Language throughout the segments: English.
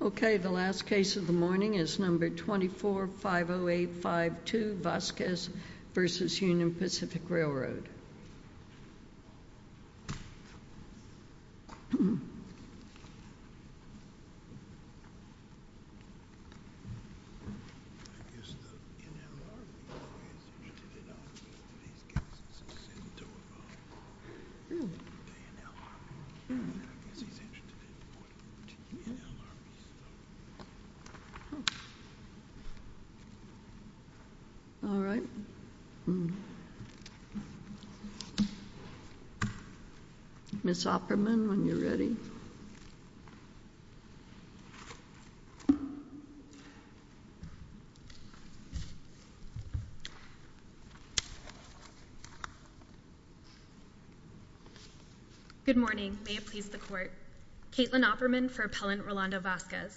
Okay, the last case of the morning is number 24-50852 Vasquez v. Union Pacific Railroad. All right, Ms. Opperman, when you're ready. Good morning. May it please the Court. Caitlin Opperman for Appellant Rolando Vasquez.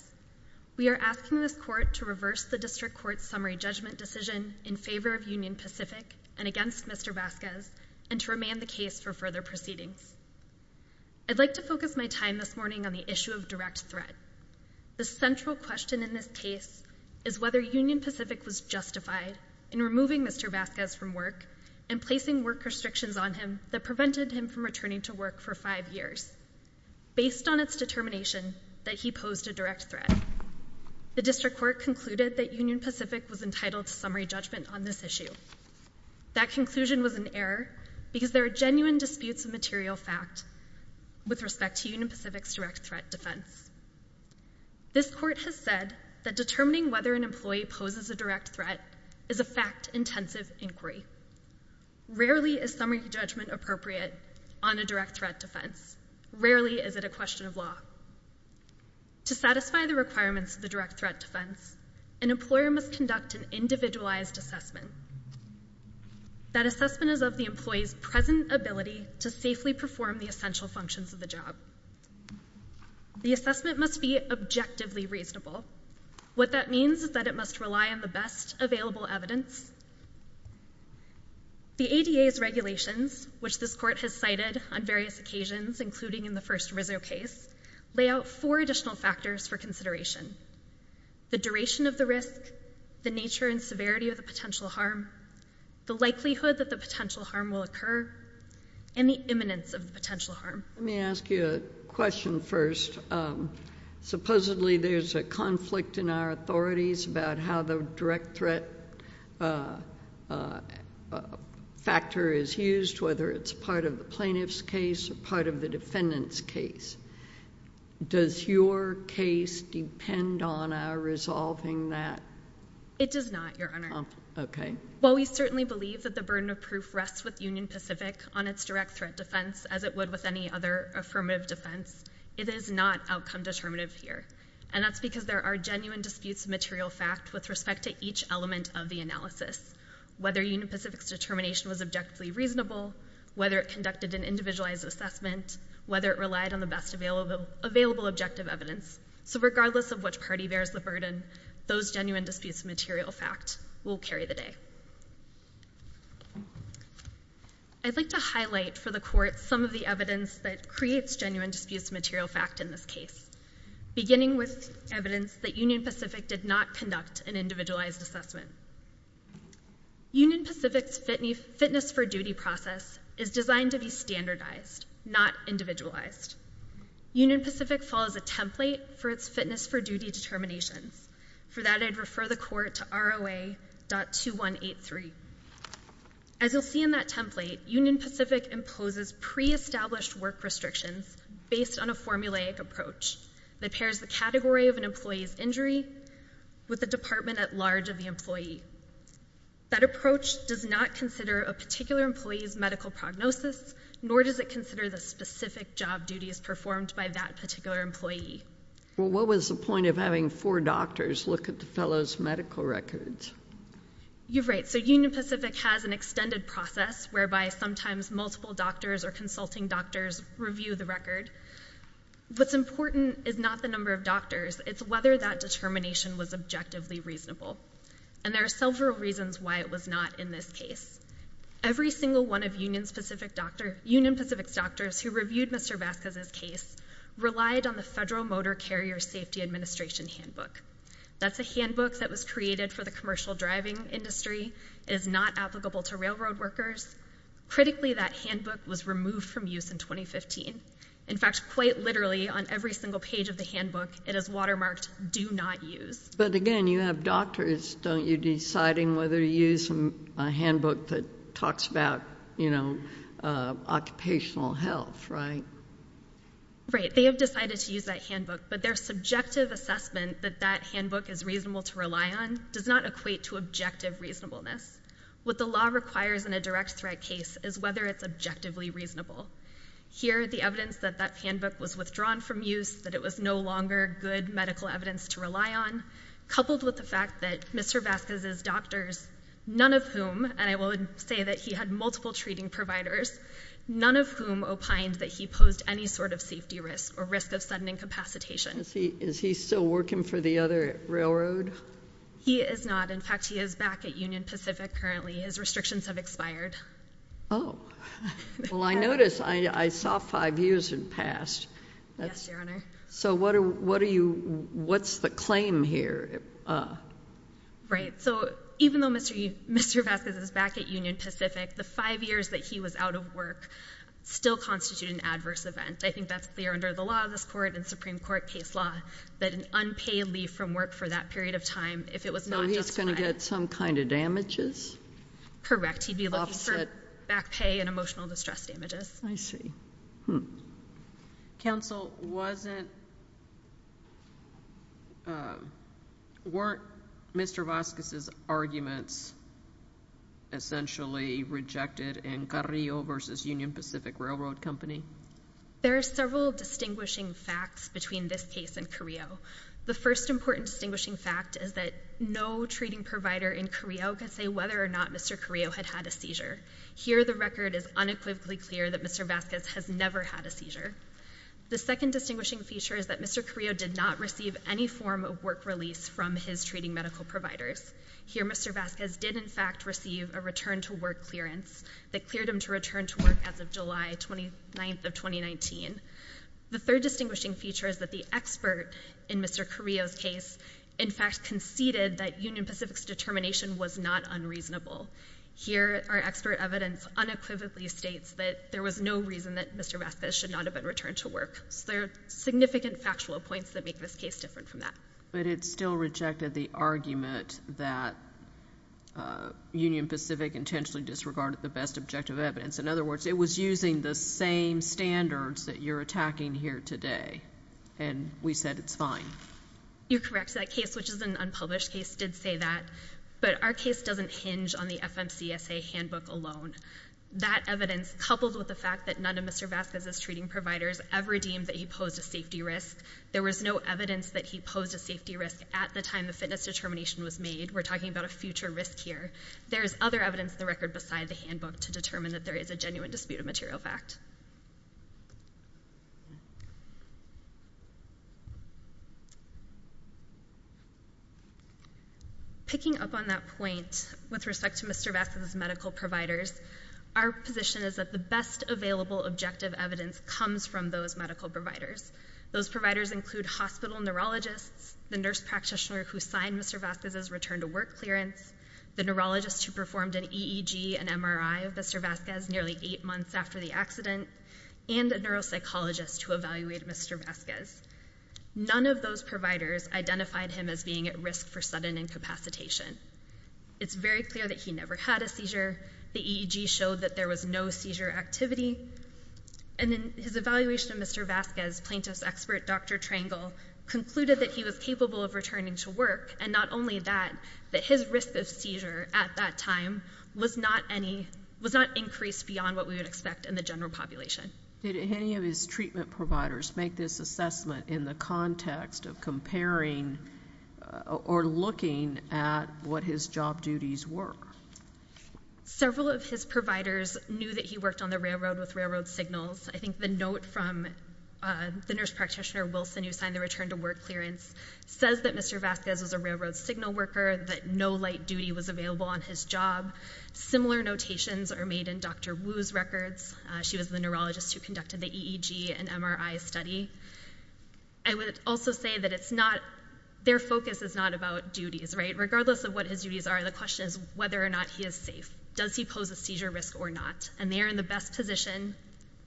We are asking this Court to reverse the District Court's summary judgment decision in favor of Union Pacific and against Mr. Vasquez and to remand the case for further proceedings. I'd like to focus my time this morning on the issue of direct threat. The central question in this case is whether Union Pacific was justified in removing Mr. Vasquez from work and placing work restrictions on him that prevented him from returning to work for five years, based on its determination that he posed a direct threat. The District Court concluded that Union Pacific was entitled to summary judgment on this issue. That conclusion was an error because there are genuine disputes of material fact with respect to Union Pacific's direct threat defense. This Court has said that determining whether an employee poses a direct threat is a fact-intensive inquiry. Rarely is summary judgment appropriate on a direct threat defense. Rarely is it a question of law. To satisfy the requirements of the individualized assessment, that assessment is of the employee's present ability to safely perform the essential functions of the job. The assessment must be objectively reasonable. What that means is that it must rely on the best available evidence. The ADA's regulations, which this Court has cited on various occasions, including in the first Rizzo case, lay out four additional factors for consideration. The duration of the risk, the nature and severity of the potential harm, the likelihood that the potential harm will occur, and the imminence of the potential harm. Let me ask you a question first. Supposedly, there's a conflict in our authorities about how the direct threat factor is used, whether it's part of the plaintiff's case or part of the defendant's case. Does your case depend on our resolving that? It does not, Your Honor. Okay. While we certainly believe that the burden of proof rests with Union Pacific on its direct threat defense, as it would with any other affirmative defense, it is not outcome-determinative here. And that's because there are genuine disputes of material fact with respect to each element of the analysis. Whether Union Pacific's determination was objectively reasonable, whether it conducted an individualized assessment, whether it relied on the best available objective evidence, so regardless of which party bears the burden, those genuine disputes of material fact will carry the day. I'd like to highlight for the Court some of the evidence that creates genuine disputes of material fact in this case, beginning with evidence that Union Pacific did not conduct an individualized assessment. Union Pacific's fitness-for-duty process is designed to be standardized, not individualized. Union Pacific follows a template for its fitness-for-duty determinations. For that, I'd refer the Court to ROA.2183. As you'll see in that template, Union Pacific imposes pre-established work restrictions based on a formulaic approach that pairs the category of an employee's injury with the department-at-large of the employee. That approach does not consider a particular employee's medical prognosis, nor does it consider the specific job duties performed by that particular employee. Well, what was the point of having four doctors look at the fellow's medical records? You're right. So Union Pacific has an extended process whereby sometimes multiple doctors or consulting doctors review the record. What's important is not the number of doctors. It's whether that determination was objectively reasonable. And there are several reasons why it was not in this case. Every single one of Union Pacific's doctors who reviewed Mr. Vasquez's case relied on the Federal Motor Carrier Safety Administration Handbook. That's a handbook that was created for the commercial driving industry. It is not applicable to railroad workers. Critically, that handbook was removed from use in 2015. In fact, quite literally on every single page of the handbook, it is watermarked, do not use. But again, you have doctors, don't you, deciding whether to use a handbook that talks about, you know, occupational health, right? Right. They have decided to use that handbook, but their subjective assessment that that handbook is reasonable to rely on does not equate to objective reasonableness. What the law requires in a direct threat case is whether it's objectively reasonable. Here the evidence that that handbook was withdrawn from use, that it was no longer good medical evidence to rely on, coupled with the fact that Mr. Vasquez's doctors, none of whom, and I would say that he had multiple treating providers, none of whom opined that he posed any sort of safety risk or risk of sudden incapacitation. Is he still working for the other railroad? He is not. In fact, he is back at Union Pacific currently. His restrictions have expired. Oh. Well, I noticed, I saw five years had passed. Yes, Your Honor. So what are you, what's the claim here? Right. So even though Mr. Vasquez is back at Union Pacific, the five years that he was out of work still constitute an adverse event. I think that's clear under the law of this Court and Supreme Court case law, that an unpaid leave from work for that period of time, if it was not justified. So he's going to get some kind of damages? Correct. He'd be looking for back pay and emotional distress damages. I see. Hmm. Counsel, wasn't, weren't Mr. Vasquez's arguments essentially rejected in Carrillo versus Union Pacific Railroad Company? There are several distinguishing facts between this case and Carrillo. The first important distinguishing fact is that no treating provider in Carrillo could say whether or not Mr. Carrillo had had a seizure. Here, the record is unequivocally clear that Mr. Vasquez has never had a seizure. The second distinguishing feature is that Mr. Carrillo did not receive any form of work release from his treating medical providers. Here, Mr. Vasquez did in fact receive a return to work clearance that cleared him to return to work as of July 29th of 2019. The third distinguishing feature is that the expert in Mr. Carrillo's case in fact conceded that Union Pacific's determination was not unreasonable. Here, our expert evidence unequivocally states that there was no reason that Mr. Vasquez should not have been returned to work. So there are significant factual points that make this case different from that. But it still rejected the argument that Union Pacific intentionally disregarded the best objective evidence. In other words, it was using the same standards that you're attacking here today, and we said it's fine. You're correct. That case, which is an unpublished case, did say that. But our case doesn't hinge on the FMCSA handbook alone. That evidence, coupled with the fact that none of Mr. Vasquez's treating providers ever deemed that he posed a safety risk, there was no evidence that he posed a safety risk at the time the fitness determination was made. We're talking about a future risk here. There is other evidence in the record beside the handbook to determine that there is a genuine dispute of material fact. Picking up on that point, with respect to Mr. Vasquez's medical providers, our position is that the best available objective evidence comes from those medical providers. Those providers include hospital neurologists, the nurse practitioner who signed Mr. Vasquez's return to work clearance, the neurologist who performed an EEG and MRI of Mr. Vasquez nearly eight months after the accident, and a neuropsychologist who evaluated Mr. Vasquez. None of those providers identified him as being at risk for sudden incapacitation. It's very clear that he never had a seizure. The EEG showed that there was no seizure activity. His evaluation of Mr. Vasquez, plaintiff's expert Dr. Trangle, concluded that he was capable of returning to work, and not only that, that his risk of seizure at that time was not increased beyond what we would expect in the general population. Did any of his treatment providers make this assessment in the context of comparing or looking at what his job duties were? Several of his providers knew that he worked on the railroad with railroad signals. I think the note from the nurse practitioner, Wilson, who signed the return to work clearance, says that Mr. Vasquez was a railroad signal worker, that no light duty was available on his job. Similar notations are made in Dr. Wu's records. She was the neurologist who conducted the EEG and MRI study. I would also say that it's not, their focus is not about duties, right? Regardless of what his duties are, the question is whether or not he is safe. Does he pose a seizure risk or not? They are in the best position,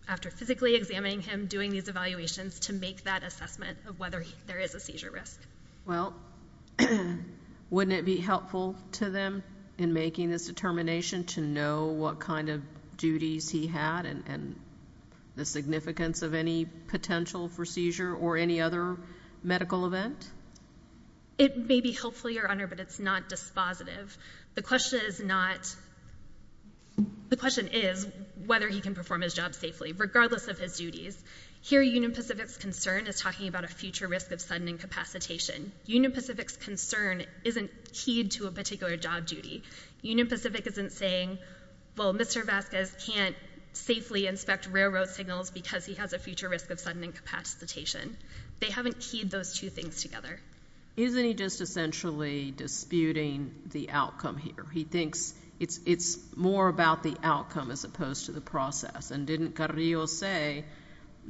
after physically examining him, doing these evaluations, to make that assessment of whether there is a seizure risk. Well, wouldn't it be helpful to them in making this determination to know what kind of duties he had and the significance of any potential for seizure or any other medical event? It may be helpful, Your Honor, but it's not dispositive. The question is not, the question is whether he can perform his job safely, regardless of his duties. Here, Union Pacific's concern is talking about a future risk of sudden incapacitation. Union Pacific's concern isn't keyed to a particular job duty. Union Pacific isn't saying, well, Mr. Vasquez can't safely inspect railroad signals because he has a future risk of sudden incapacitation. They haven't keyed those two things together. Isn't he just essentially disputing the outcome here? He thinks it's more about the outcome as opposed to the process, and didn't Carrillo say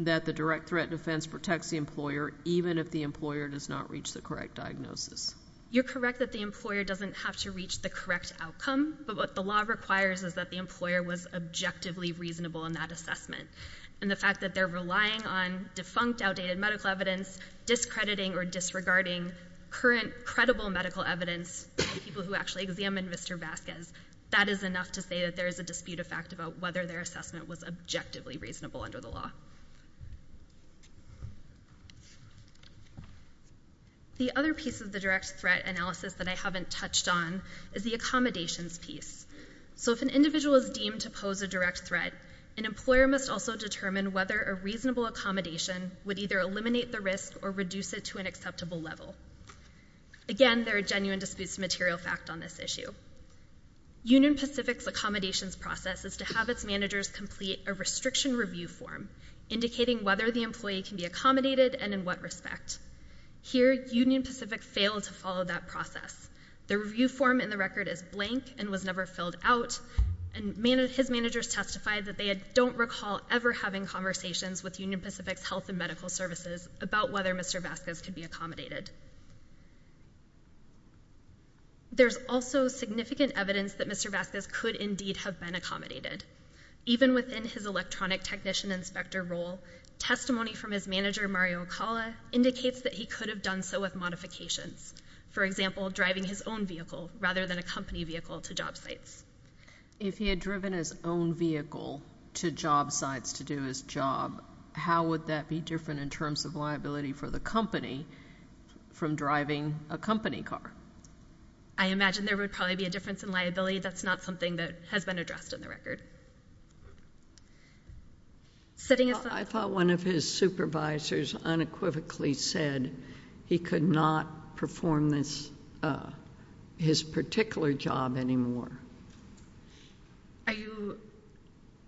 that the direct threat defense protects the employer even if the employer does not reach the correct diagnosis? You're correct that the employer doesn't have to reach the correct outcome, but what the law requires is that the employer was objectively reasonable in that assessment, and the fact that they're relying on defunct, outdated medical evidence, discrediting or disregarding current credible medical evidence from people who actually examined Mr. Vasquez, that is enough to say that there is a dispute of fact about whether their assessment was objectively reasonable under the law. The other piece of the direct threat analysis that I haven't touched on is the accommodations piece. So if an individual is deemed to pose a direct threat, an employer must also determine whether a reasonable accommodation would either eliminate the risk or reduce it to an acceptable level. Again, there are genuine disputes of material fact on this issue. Union Pacific's accommodations process is to have its managers complete a restriction review form indicating whether the employee can be accommodated and in what respect. Here, Union Pacific failed to follow that process. The review form in the record is blank and was never filled out, and his managers testified that they don't recall ever having conversations with Union Pacific's health and medical services about whether Mr. Vasquez could be accommodated. There's also significant evidence that Mr. Vasquez could indeed have been accommodated. Even within his electronic technician inspector role, testimony from his manager Mario Acala indicates that he could have done so with modifications. For example, driving his own vehicle rather than a company vehicle to job sites. If he had driven his own vehicle to job sites to do his job, how would that be different in terms of liability for the company from driving a company car? I imagine there would probably be a difference in liability. That's not something that has been addressed in the record. I thought one of his supervisors unequivocally said he could not perform his particular job anymore.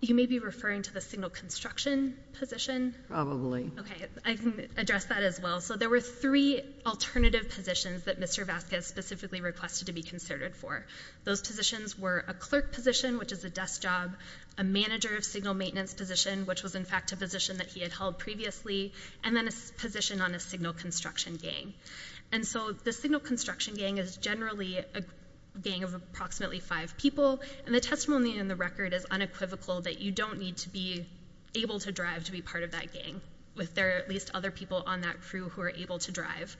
You may be referring to the signal construction position. Okay. I can address that as well. There were three alternative positions that Mr. Vasquez specifically requested to be considered for. Those positions were a clerk position, which was his best job, a manager of signal maintenance position, which was in fact a position that he had held previously, and then a position on a signal construction gang. The signal construction gang is generally a gang of approximately five people. The testimony in the record is unequivocal that you don't need to be able to drive to be part of that gang, if there are at least other people on that crew who are able to drive.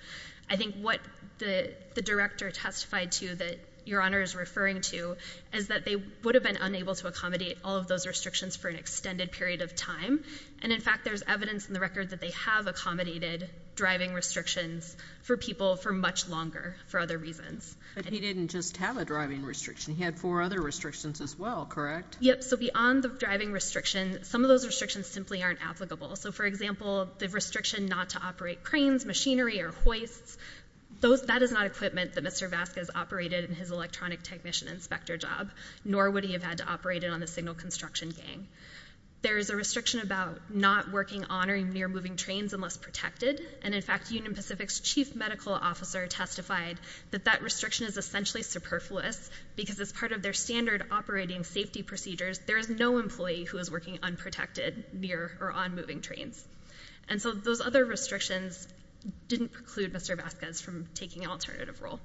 I think what the director testified to that Your Honor is referring to is that they would have been unable to accommodate all of those restrictions for an extended period of time, and in fact there's evidence in the record that they have accommodated driving restrictions for people for much longer for other reasons. But he didn't just have a driving restriction. He had four other restrictions as well, correct? Yep. So beyond the driving restriction, some of those restrictions simply aren't applicable. So for example, the restriction not to operate cranes, machinery, or hoists, that is not equipment that Mr. Vasquez operated in his electronic technician inspector job, nor would he have had to operate it on the signal construction gang. There is a restriction about not working on or near moving trains unless protected, and in fact Union Pacific's chief medical officer testified that that restriction is essentially superfluous because as part of their standard operating safety procedures, there is no employee who is working unprotected, near, or on moving trains. And so those other restrictions didn't preclude Mr. Vasquez from taking an alternative role.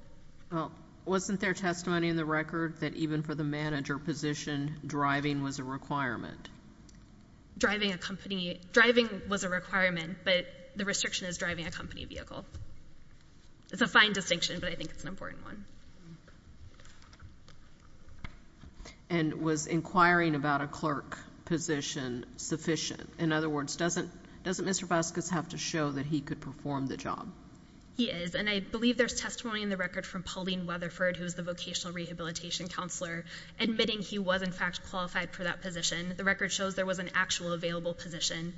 Well, wasn't there testimony in the record that even for the manager position, driving was a requirement? Driving a company, driving was a requirement, but the restriction is driving a company vehicle. It's a fine distinction, but I think it's an important one. And was inquiring about a clerk position sufficient? In other words, doesn't Mr. Vasquez have to show that he could perform the job? He is, and I believe there's testimony in the record from Pauline Weatherford, who is the vocational rehabilitation counselor, admitting he was in fact qualified for that position. The record shows there was an actual available position,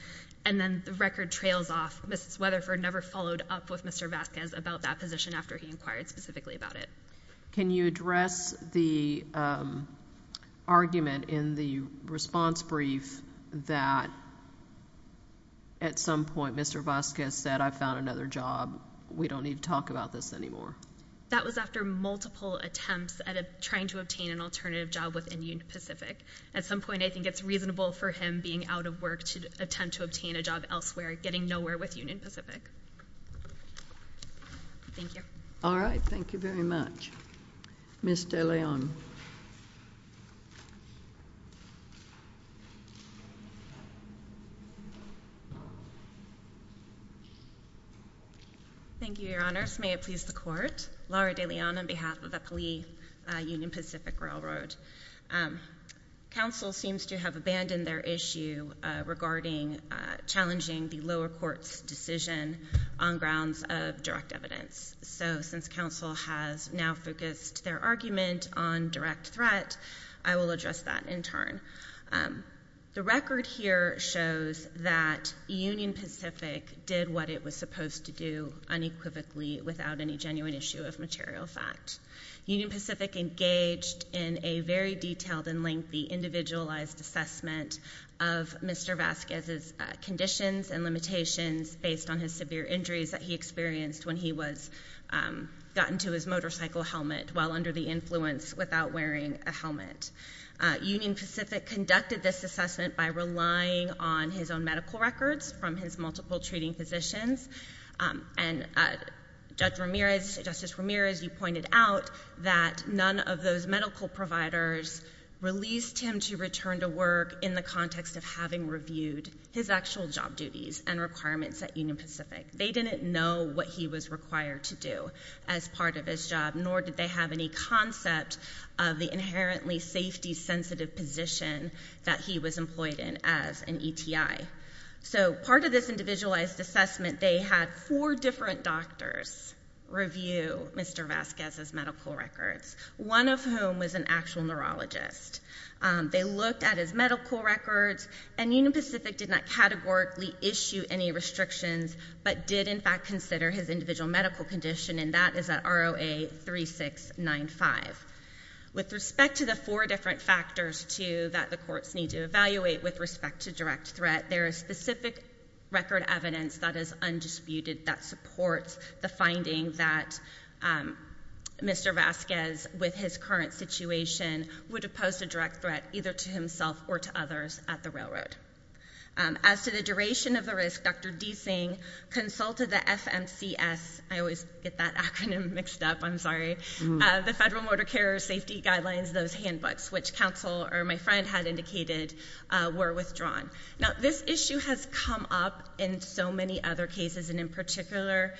and then the record trails off. Mrs. Weatherford never followed up with Mr. Vasquez about that position after he inquired specifically about it. Can you address the argument in the response brief that at some point Mr. Vasquez said I found another job, we don't need to talk about this anymore? That was after multiple attempts at trying to obtain an alternative job within Union Pacific. At some point I think it's reasonable for him being out of work to attempt to obtain a job elsewhere, getting nowhere with Union Pacific. Thank you. All right. Thank you very much. Ms. De Leon. Thank you, Your Honors. May it please the Court. Laura De Leon on behalf of the police at Union Pacific Railroad. Counsel seems to have abandoned their issue regarding challenging the lower court's decision on grounds of direct evidence. So since counsel has now focused their argument on direct threat, I will address that in turn. The record here shows that Union Pacific did what it was supposed to do unequivocally without any genuine issue of material fact. Union Pacific engaged in a very detailed and lengthy individualized assessment of Mr. Vasquez's conditions and limitations based on his severe injuries that he experienced when he got into his motorcycle helmet while under the influence without wearing a helmet. Union Pacific conducted this assessment by relying on his own medical records from his multiple treating physicians, and Judge Ramirez, Justice Ramirez, you pointed out that none of those medical providers released him to return to work in the context of having reviewed his actual job duties and requirements at Union Pacific. They didn't know what he was required to do as part of his job, nor did they have any concept of the inherently safety-sensitive position that he was employed in as an ETI. So part of this individualized assessment, they had four different doctors review Mr. Vasquez's medical records, one of whom was an actual neurologist. They looked at his medical records, and Union Pacific did not categorically issue any restrictions, but did in fact consider his individual medical condition, and that is at ROA 3695. With respect to the four different factors, too, that the courts need to evaluate with respect to direct threat, there is specific record evidence that is undisputed that supports the finding that Mr. Vasquez, with his current situation, would have posed a direct threat either to himself or to others at the railroad. As to the duration of the risk, Dr. DeSing consulted the FMCS, I always get that acronym mixed up, I'm sorry, the Federal Motor Carrier Safety Guidelines, those handbooks, which counsel or my friend had indicated were withdrawn. Now, this issue has come up in so many other cases, and in particular,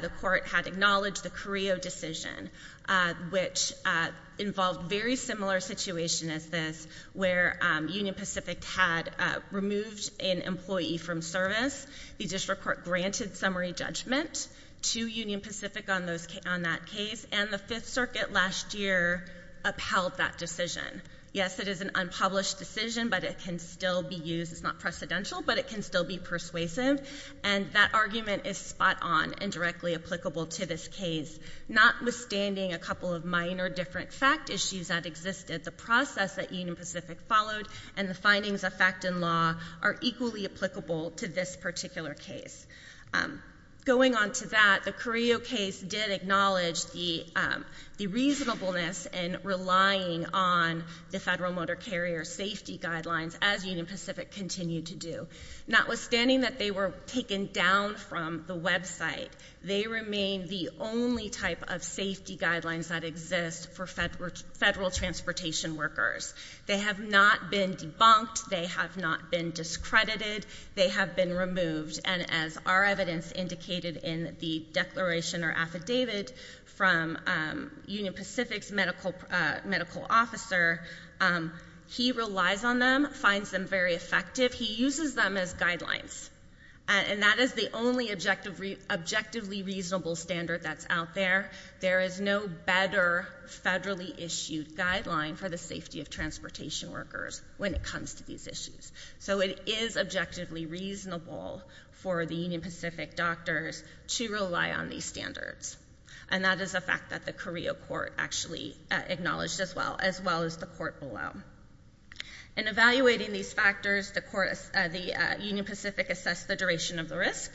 the court had acknowledged the Carrillo decision, which involved very similar situation as this, where Union Pacific had removed an employee from service, the district court granted summary judgment to Union Pacific on that case, and the Fifth Circuit last year upheld that decision. Yes, it is an unpublished decision, but it can still be used, it's not precedential, but it can still be persuasive, and that argument is spot on and directly applicable to this case, notwithstanding a couple of minor different fact issues that existed. The process that Union Pacific followed and the findings of fact and law are equally applicable to this particular case. Going on to that, the Carrillo case did acknowledge the reasonableness in relying on the Federal Motor Carrier Safety Guidelines, as Union Pacific continued to do. Notwithstanding that they were taken down from the website, they remain the only type of safety guidelines that exist for federal transportation workers. They have not been debunked, they have not been discredited, they have been removed, and as our evidence indicated in the declaration or affidavit from Union Pacific's medical officer, he relies on them, finds them very effective, he uses them as guidelines. And that is the only objectively reasonable standard that's out there. There is no better federally issued guideline for the safety of transportation workers when it comes to these issues. So it is objectively reasonable for the Union Pacific doctors to rely on these standards. And that is a fact that the Carrillo court actually acknowledged as well, as well as the court below. In evaluating these factors, the Union Pacific assessed the duration of the risk,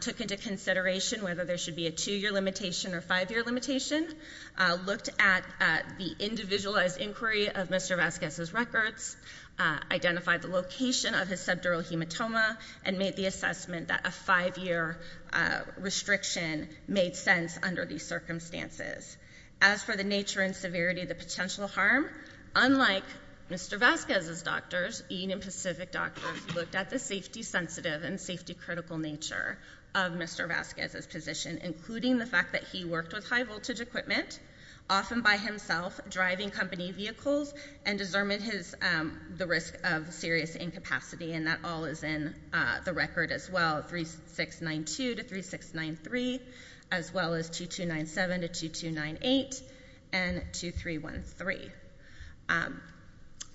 took into consideration whether there should be a two-year limitation or five-year limitation, looked at the individualized inquiry of Mr. Vazquez's records, identified the location of his subdural hematoma, and made the assessment that a five-year restriction made sense under these circumstances. As for the nature and severity of the potential harm, unlike Mr. Vazquez's doctors, Union Pacific doctors looked at the safety-sensitive and safety-critical nature of Mr. Vazquez's position, including the fact that he worked with high-voltage equipment, often by himself, driving company vehicles, and discerned the risk of serious incapacity. And that all is in the record as well, 3692 to 3693, as well as 2297 to 2298, and 2313.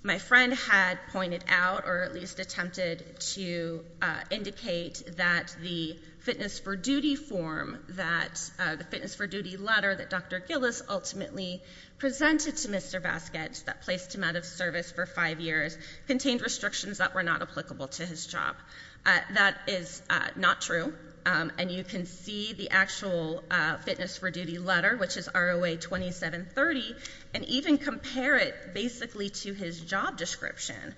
My friend had pointed out, or at least attempted to indicate, that the fitness for duty form, that the fitness for duty letter that Dr. Gillis ultimately presented to Mr. Vazquez that placed him out of service for five years contained restrictions that were not applicable to his job. That is not true, and you can see the actual fitness for duty letter, which is ROA 2730, and even compare it, basically, to his job description,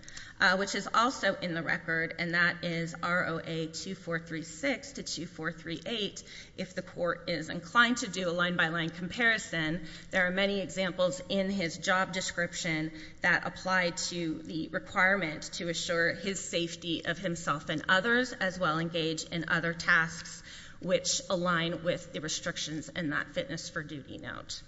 which is also in the record, and that is ROA 2436 to 2438. If the court is inclined to do a line-by-line comparison, there are many examples in his job description that apply to the requirement to assure his safety of himself and others, as well engage in other tasks which align with the restrictions in that fitness for duty note.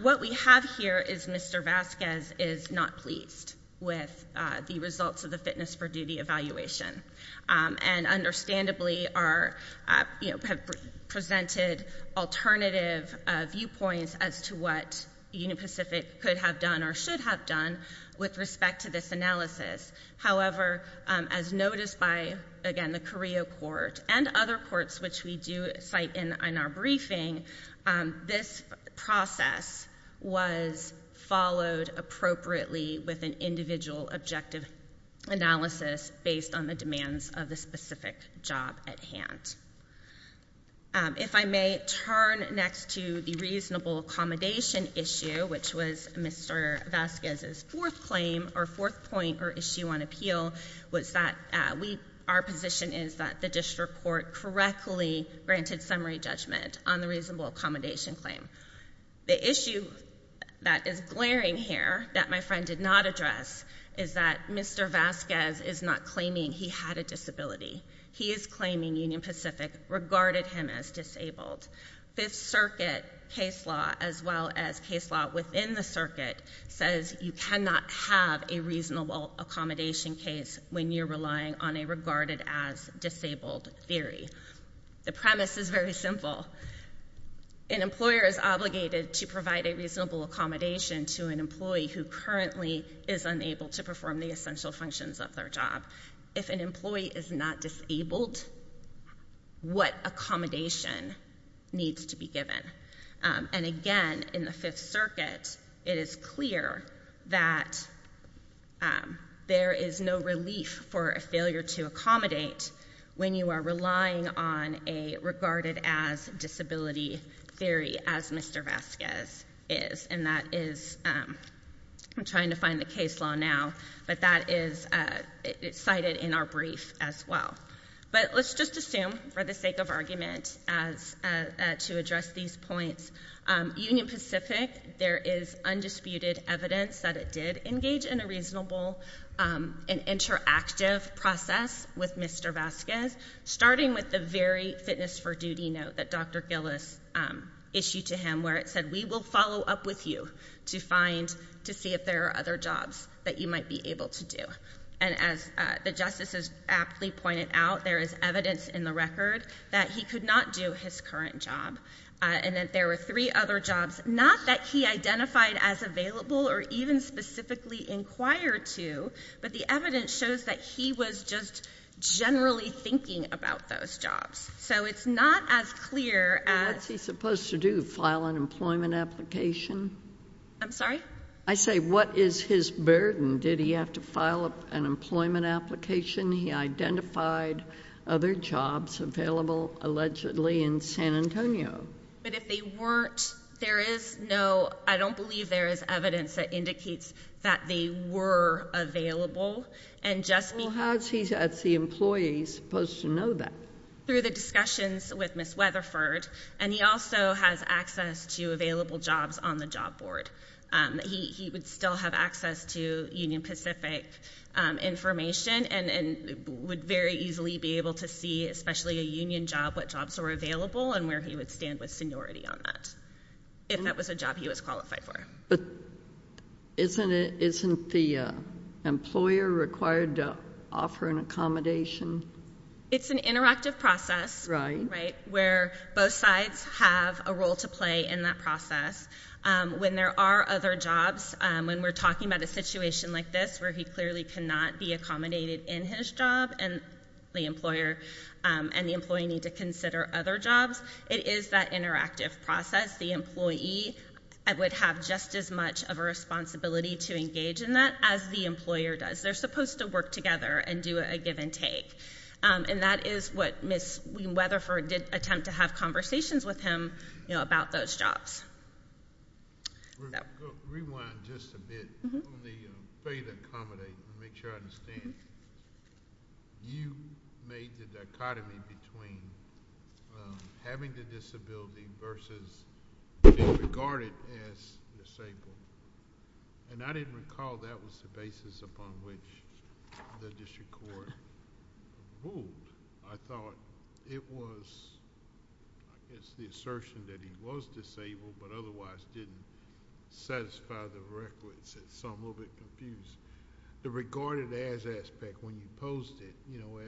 What we have here is Mr. Vazquez is not pleased with the results of the fitness for duty evaluation, and understandably, are, you know, have presented alternative viewpoints as to what Union Pacific could have done or should have done with respect to this analysis. However, as noticed by, again, the Carrillo Court and other courts which we do cite in our briefing, this process was followed appropriately with an individual objective analysis based on the demands of the specific job at hand. If I may turn next to the reasonable accommodation issue, which was Mr. Vazquez's fourth claim or fourth point or issue on appeal, was that our position is that the district court correctly granted summary judgment on the reasonable accommodation claim. The issue that is glaring here that my friend did not address is that Mr. Vazquez is not claiming he had a disability. He is claiming Union Pacific regarded him as disabled. Fifth Circuit case law, as well as case law within the circuit, says you cannot have a reasonable accommodation case when you're relying on a regarded as disabled theory. The premise is very simple. An employer is obligated to provide a reasonable accommodation to an employee who currently is unable to perform the essential functions of their job. If an employee is not disabled, what accommodation needs to be given? And again, in the Fifth Circuit, it is clear that there is no relief for a failure to accommodate when you are relying on a regarded as disability theory, as Mr. Vazquez is. And that is, I'm trying to find the case law now, but that is cited in our brief as well. But let's just assume, for the sake of argument, as to address these points, Union Pacific, there is undisputed evidence that it did engage in a reasonable and interactive process with Mr. Vazquez, starting with the very fitness for duty note that Dr. Gillis issued to him, where it said, we will follow up with you to find, to see if there are other jobs that you might be able to do. And as the justices aptly pointed out, there is evidence in the record that he could not do his current job, and that there were three other jobs, not that he identified as available or even specifically inquired to, but the evidence shows that he was just generally thinking about those jobs. So it's not as clear as... What's he supposed to do, file an employment application? I'm sorry? I say, what is his burden? Did he have to file an employment application? He identified other jobs available, allegedly, in San Antonio. But if they weren't, there is no... I don't believe there is evidence that indicates that they were available, and just because... Well, how is he, as the employee, supposed to know that? Through the discussions with Ms. Weatherford, and he also has access to available jobs on the job board. He would still have access to Union Pacific information, and would very easily be able to see, especially a union job, what jobs were available, and where he would stand with seniority on that, if that was a job he was qualified for. Isn't the employer required to offer an accommodation? It's an interactive process, where both sides have a role to play in that process. When there are other jobs, when we're talking about a situation like this, where he clearly cannot be accommodated in his job, and the employer and the employee need to consider other jobs, it is that interactive process. The employee would have just as much of a responsibility to engage in that as the employer does. They're supposed to work together and do a give and take. And that is what Ms. Weatherford did attempt to have conversations with him about those jobs. Rewind just a bit on the failure to accommodate, to make sure I understand, you made the dichotomy between having a disability versus being regarded as disabled, and I didn't recall that was the basis upon which the district court ruled, I thought it was, it's the assertion that the employee was disabled, but otherwise didn't satisfy the requisite, so I'm a little bit confused. The regarded as aspect, when you posed it,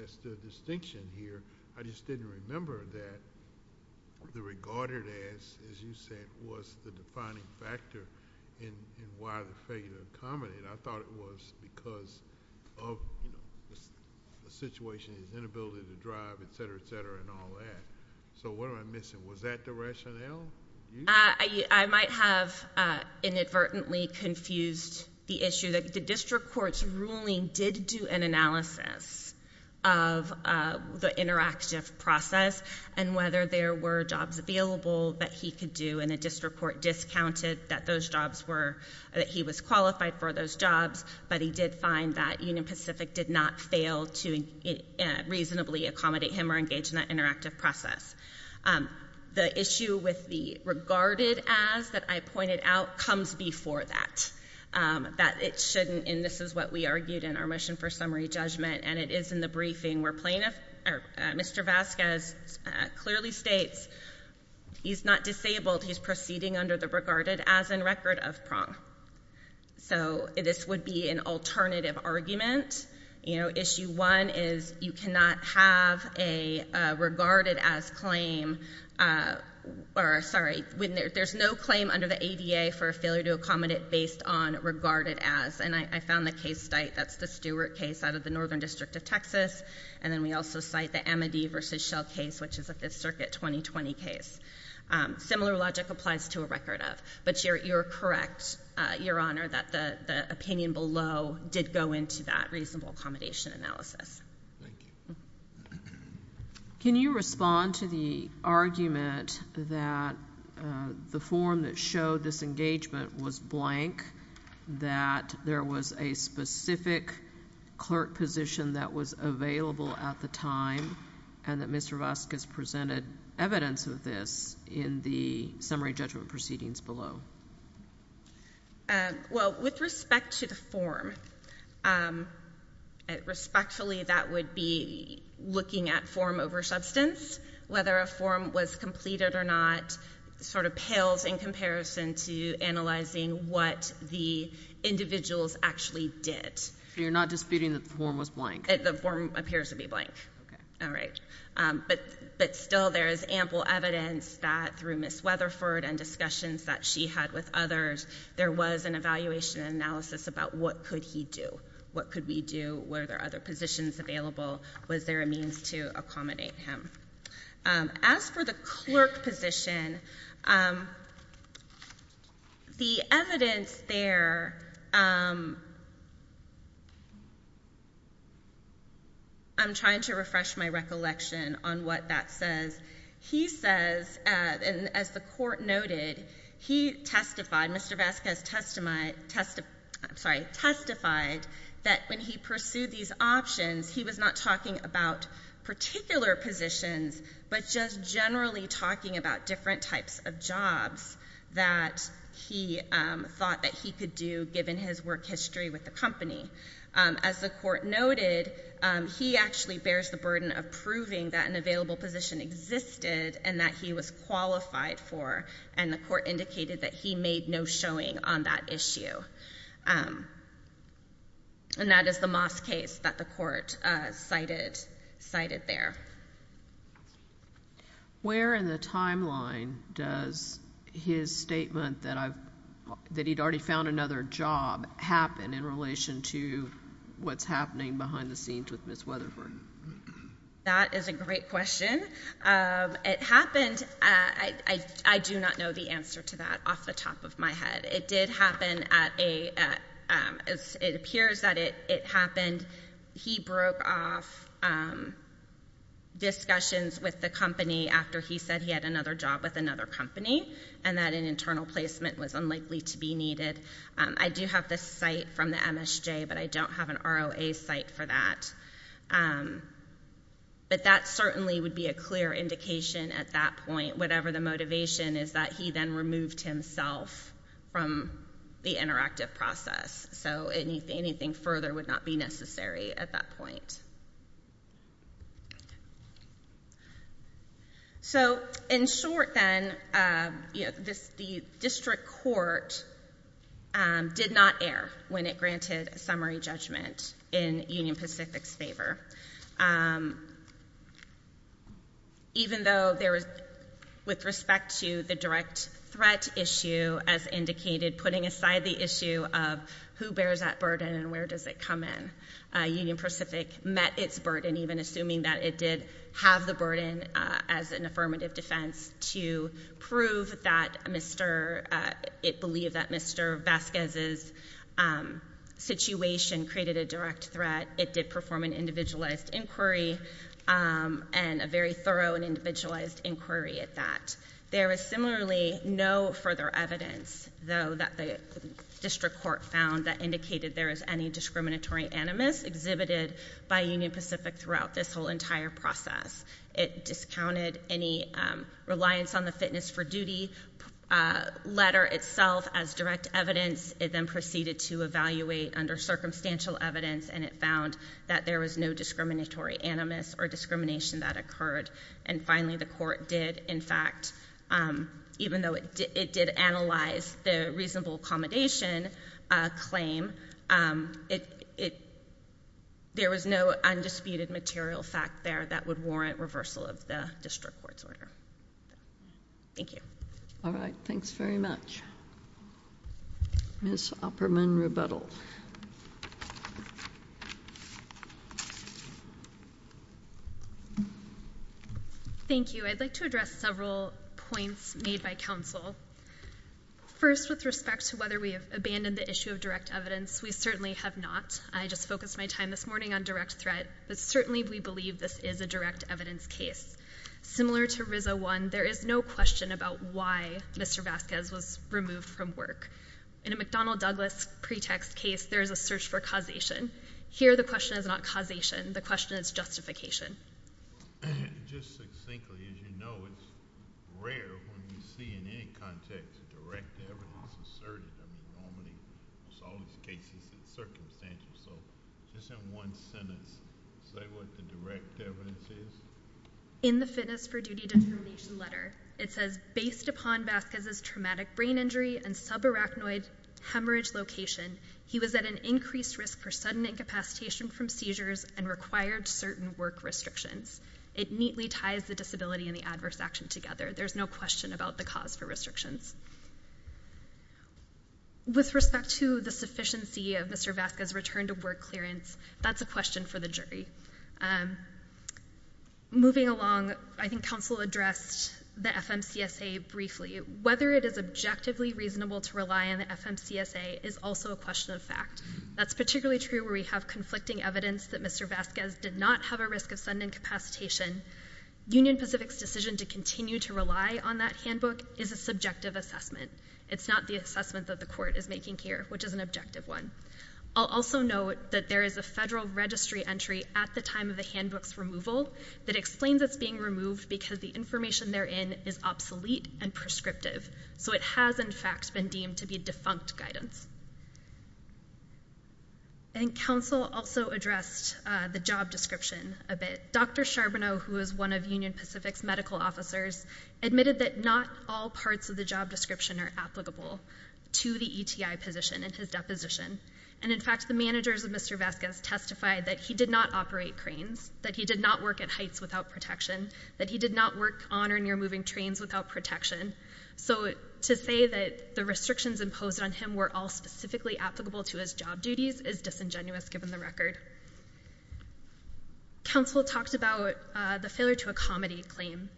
as the distinction here, I just didn't remember that the regarded as, as you said, was the defining factor in why the failure to accommodate. I thought it was because of the situation, his inability to drive, etc., etc., and all that. So what am I missing? Was that the rationale? You? I might have inadvertently confused the issue that the district court's ruling did do an analysis of the interactive process and whether there were jobs available that he could do, and the district court discounted that those jobs were, that he was qualified for those jobs, but he did find that Union Pacific did not fail to reasonably accommodate him or The issue with the regarded as that I pointed out comes before that, that it shouldn't, and this is what we argued in our mission for summary judgment, and it is in the briefing where Mr. Vasquez clearly states he's not disabled, he's proceeding under the regarded as in record of PRONG. So this would be an alternative argument. Issue one is you cannot have a regarded as claim, sorry, there's no claim under the ADA for a failure to accommodate based on regarded as, and I found the case site, that's the Stewart case out of the Northern District of Texas, and then we also cite the Amity v. Shell case, which is a Fifth Circuit 2020 case. Similar logic applies to a record of, but you're correct, Your Honor, that the opinion below did go into that reasonable accommodation analysis. Can you respond to the argument that the form that showed this engagement was blank, that there was a specific clerk position that was available at the time, and that Mr. Vasquez presented evidence of this in the summary judgment proceedings below? Well, with respect to the form, respectfully, that would be looking at form over substance. Whether a form was completed or not sort of pales in comparison to analyzing what the individuals actually did. So you're not disputing that the form was blank? The form appears to be blank. Okay. All right. But still there is ample evidence that through Ms. Weatherford and discussions that she had with others, there was an evaluation analysis about what could he do? What could we do? Were there other positions available? Was there a means to accommodate him? As for the clerk position, the evidence there, I'm trying to refresh my recollection on what that says. He says, and as the court noted, he testified, Mr. Vasquez testified that when he pursued these options, he was not talking about particular positions, but just generally talking about different types of jobs that he thought that he could do given his work history with the company. As the court noted, he actually bears the burden of proving that an available position existed and that he was qualified for, and the court indicated that he made no showing on that issue. And that is the Moss case that the court cited there. Where in the timeline does his statement that he'd already found another job happen in relation to what's happening behind the scenes with Ms. Weatherford? That is a great question. It happened, I do not know the answer to that off the top of my head. It did happen at a, it appears that it happened, he broke off discussions with the company after he said he had another job with another company and that an internal placement was unlikely to be needed. I do have the site from the MSJ, but I don't have an ROA site for that. But that certainly would be a clear indication at that point, whatever the motivation is that he then removed himself from the interactive process. So anything further would not be necessary at that point. So in short then, the district court did not err when it granted a summary judgment in Union Pacific's favor. Even though there was, with respect to the direct threat issue, as indicated, putting aside the issue of who bears that burden and where does it come in, Union Pacific met its burden, even assuming that it did have the burden as an affirmative defense to prove that Mr., it believed that Mr. Vasquez's situation created a direct threat. But it did perform an individualized inquiry and a very thorough and individualized inquiry at that. There was similarly no further evidence, though, that the district court found that indicated there is any discriminatory animus exhibited by Union Pacific throughout this whole entire process. It discounted any reliance on the fitness for duty letter itself as direct evidence. It then proceeded to evaluate under circumstantial evidence, and it found that there was no discriminatory animus or discrimination that occurred. And finally, the court did, in fact, even though it did analyze the reasonable accommodation claim, there was no undisputed material fact there that would warrant reversal of the district court's order. Thank you. All right. Thanks very much. Ms. Opperman-Rebuttal. Thank you. I'd like to address several points made by counsel. First, with respect to whether we have abandoned the issue of direct evidence, we certainly have not. I just focused my time this morning on direct threat, but certainly we believe this is a direct evidence case. Similar to RZA 1, there is no question about why Mr. Vasquez was removed from work. In a McDonnell Douglas pretext case, there is a search for causation. Here, the question is not causation. The question is justification. Just succinctly, as you know, it's rare when you see in any context direct evidence asserted. I mean, normally in all these cases, it's circumstantial. So just in one sentence, say what the direct evidence is. In the fitness for duty determination letter, it says, based upon Vasquez's traumatic brain injury and subarachnoid hemorrhage location, he was at an increased risk for sudden incapacitation from seizures and required certain work restrictions. It neatly ties the disability and the adverse action together. There's no question about the cause for restrictions. With respect to the sufficiency of Mr. Vasquez's return to work clearance, that's a question for the jury. Moving along, I think counsel addressed the FMCSA briefly. Whether it is objectively reasonable to rely on the FMCSA is also a question of fact. That's particularly true where we have conflicting evidence that Mr. Vasquez did not have a risk of sudden incapacitation. Union Pacific's decision to continue to rely on that handbook is a subjective assessment. It's not the assessment that the court is making here, which is an objective one. I'll also note that there is a federal registry entry at the time of the handbook's removal that explains it's being removed because the information therein is obsolete and prescriptive. So it has, in fact, been deemed to be defunct guidance. I think counsel also addressed the job description a bit. Dr. Charbonneau, who is one of Union Pacific's medical officers, admitted that not all parts of the job description are applicable to the ETI position in his deposition. In fact, the managers of Mr. Vasquez testified that he did not operate cranes, that he did not work at heights without protection, that he did not work on or near moving trains without protection. So to say that the restrictions imposed on him were all specifically applicable to his job duties is disingenuous given the record. Counsel talked about the failure to accommodate claim.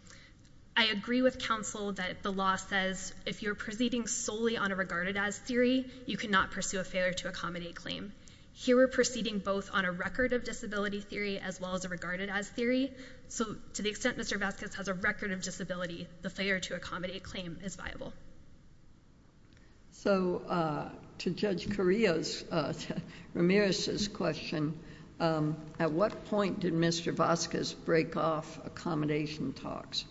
I agree with counsel that the law says if you're proceeding solely on a regarded-as theory, you cannot pursue a failure-to-accommodate claim. Here we're proceeding both on a record-of-disability theory as well as a regarded-as theory. So to the extent Mr. Vasquez has a record of disability, the failure-to-accommodate claim is viable. So to Judge Carrillo's, Ramirez's question, at what point did Mr. Vasquez break off accommodation talks?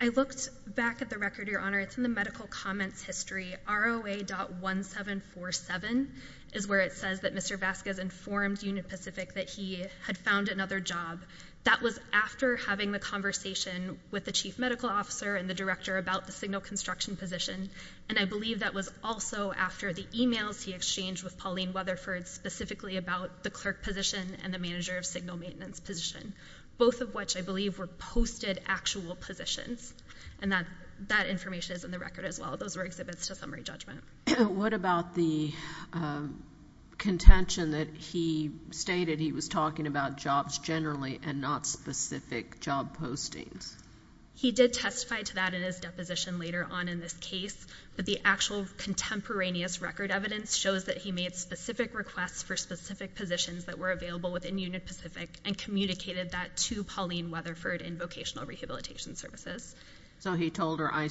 I looked back at the record, Your Honor. It's in the medical comments history. ROA.1747 is where it says that Mr. Vasquez informed Union Pacific that he had found another job. That was after having the conversation with the chief medical officer and the director about the signal construction position, and I believe that was also after the e-mails he exchanged with Pauline Weatherford specifically about the clerk position and the manager of signal maintenance position, both of which I believe were posted actual positions. And that information is in the record as well. Those were exhibits to summary judgment. What about the contention that he stated he was talking about jobs generally and not specific job postings? He did testify to that in his deposition later on in this case, but the actual contemporaneous record evidence shows that he made specific requests for specific positions that were available within Union Pacific and communicated that to Pauline Weatherford in vocational rehabilitation services. So he told her, I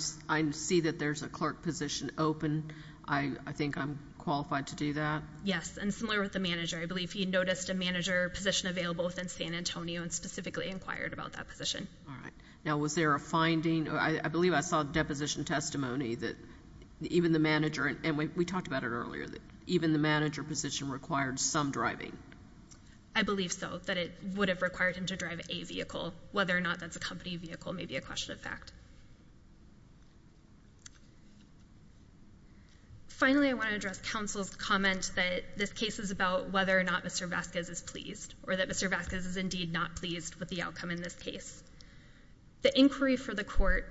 see that there's a clerk position open. I think I'm qualified to do that? Yes, and similar with the manager. I believe he noticed a manager position available within San Antonio and specifically inquired about that position. All right. Now, was there a finding? I believe I saw a deposition testimony that even the manager, and we talked about it earlier, that even the manager position required some driving. I believe so, that it would have required him to drive a vehicle. Whether or not that's a company vehicle may be a question of fact. Finally, I want to address counsel's comment that this case is about whether or not Mr. Vasquez is pleased or that Mr. Vasquez is indeed not pleased with the outcome in this case. The inquiry for the court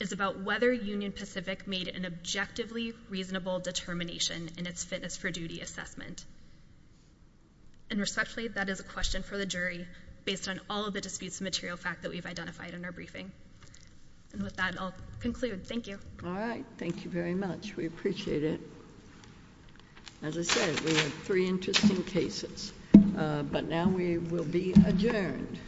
is about whether Union Pacific made an objectively reasonable determination in its fitness for duty assessment. Respectfully, that is a question for the jury based on all of the disputes of material fact that we've identified in our briefing. With that, I'll conclude. Thank you. All right. Thank you very much. We appreciate it. As I said, we have three interesting cases. But now we will be adjourned.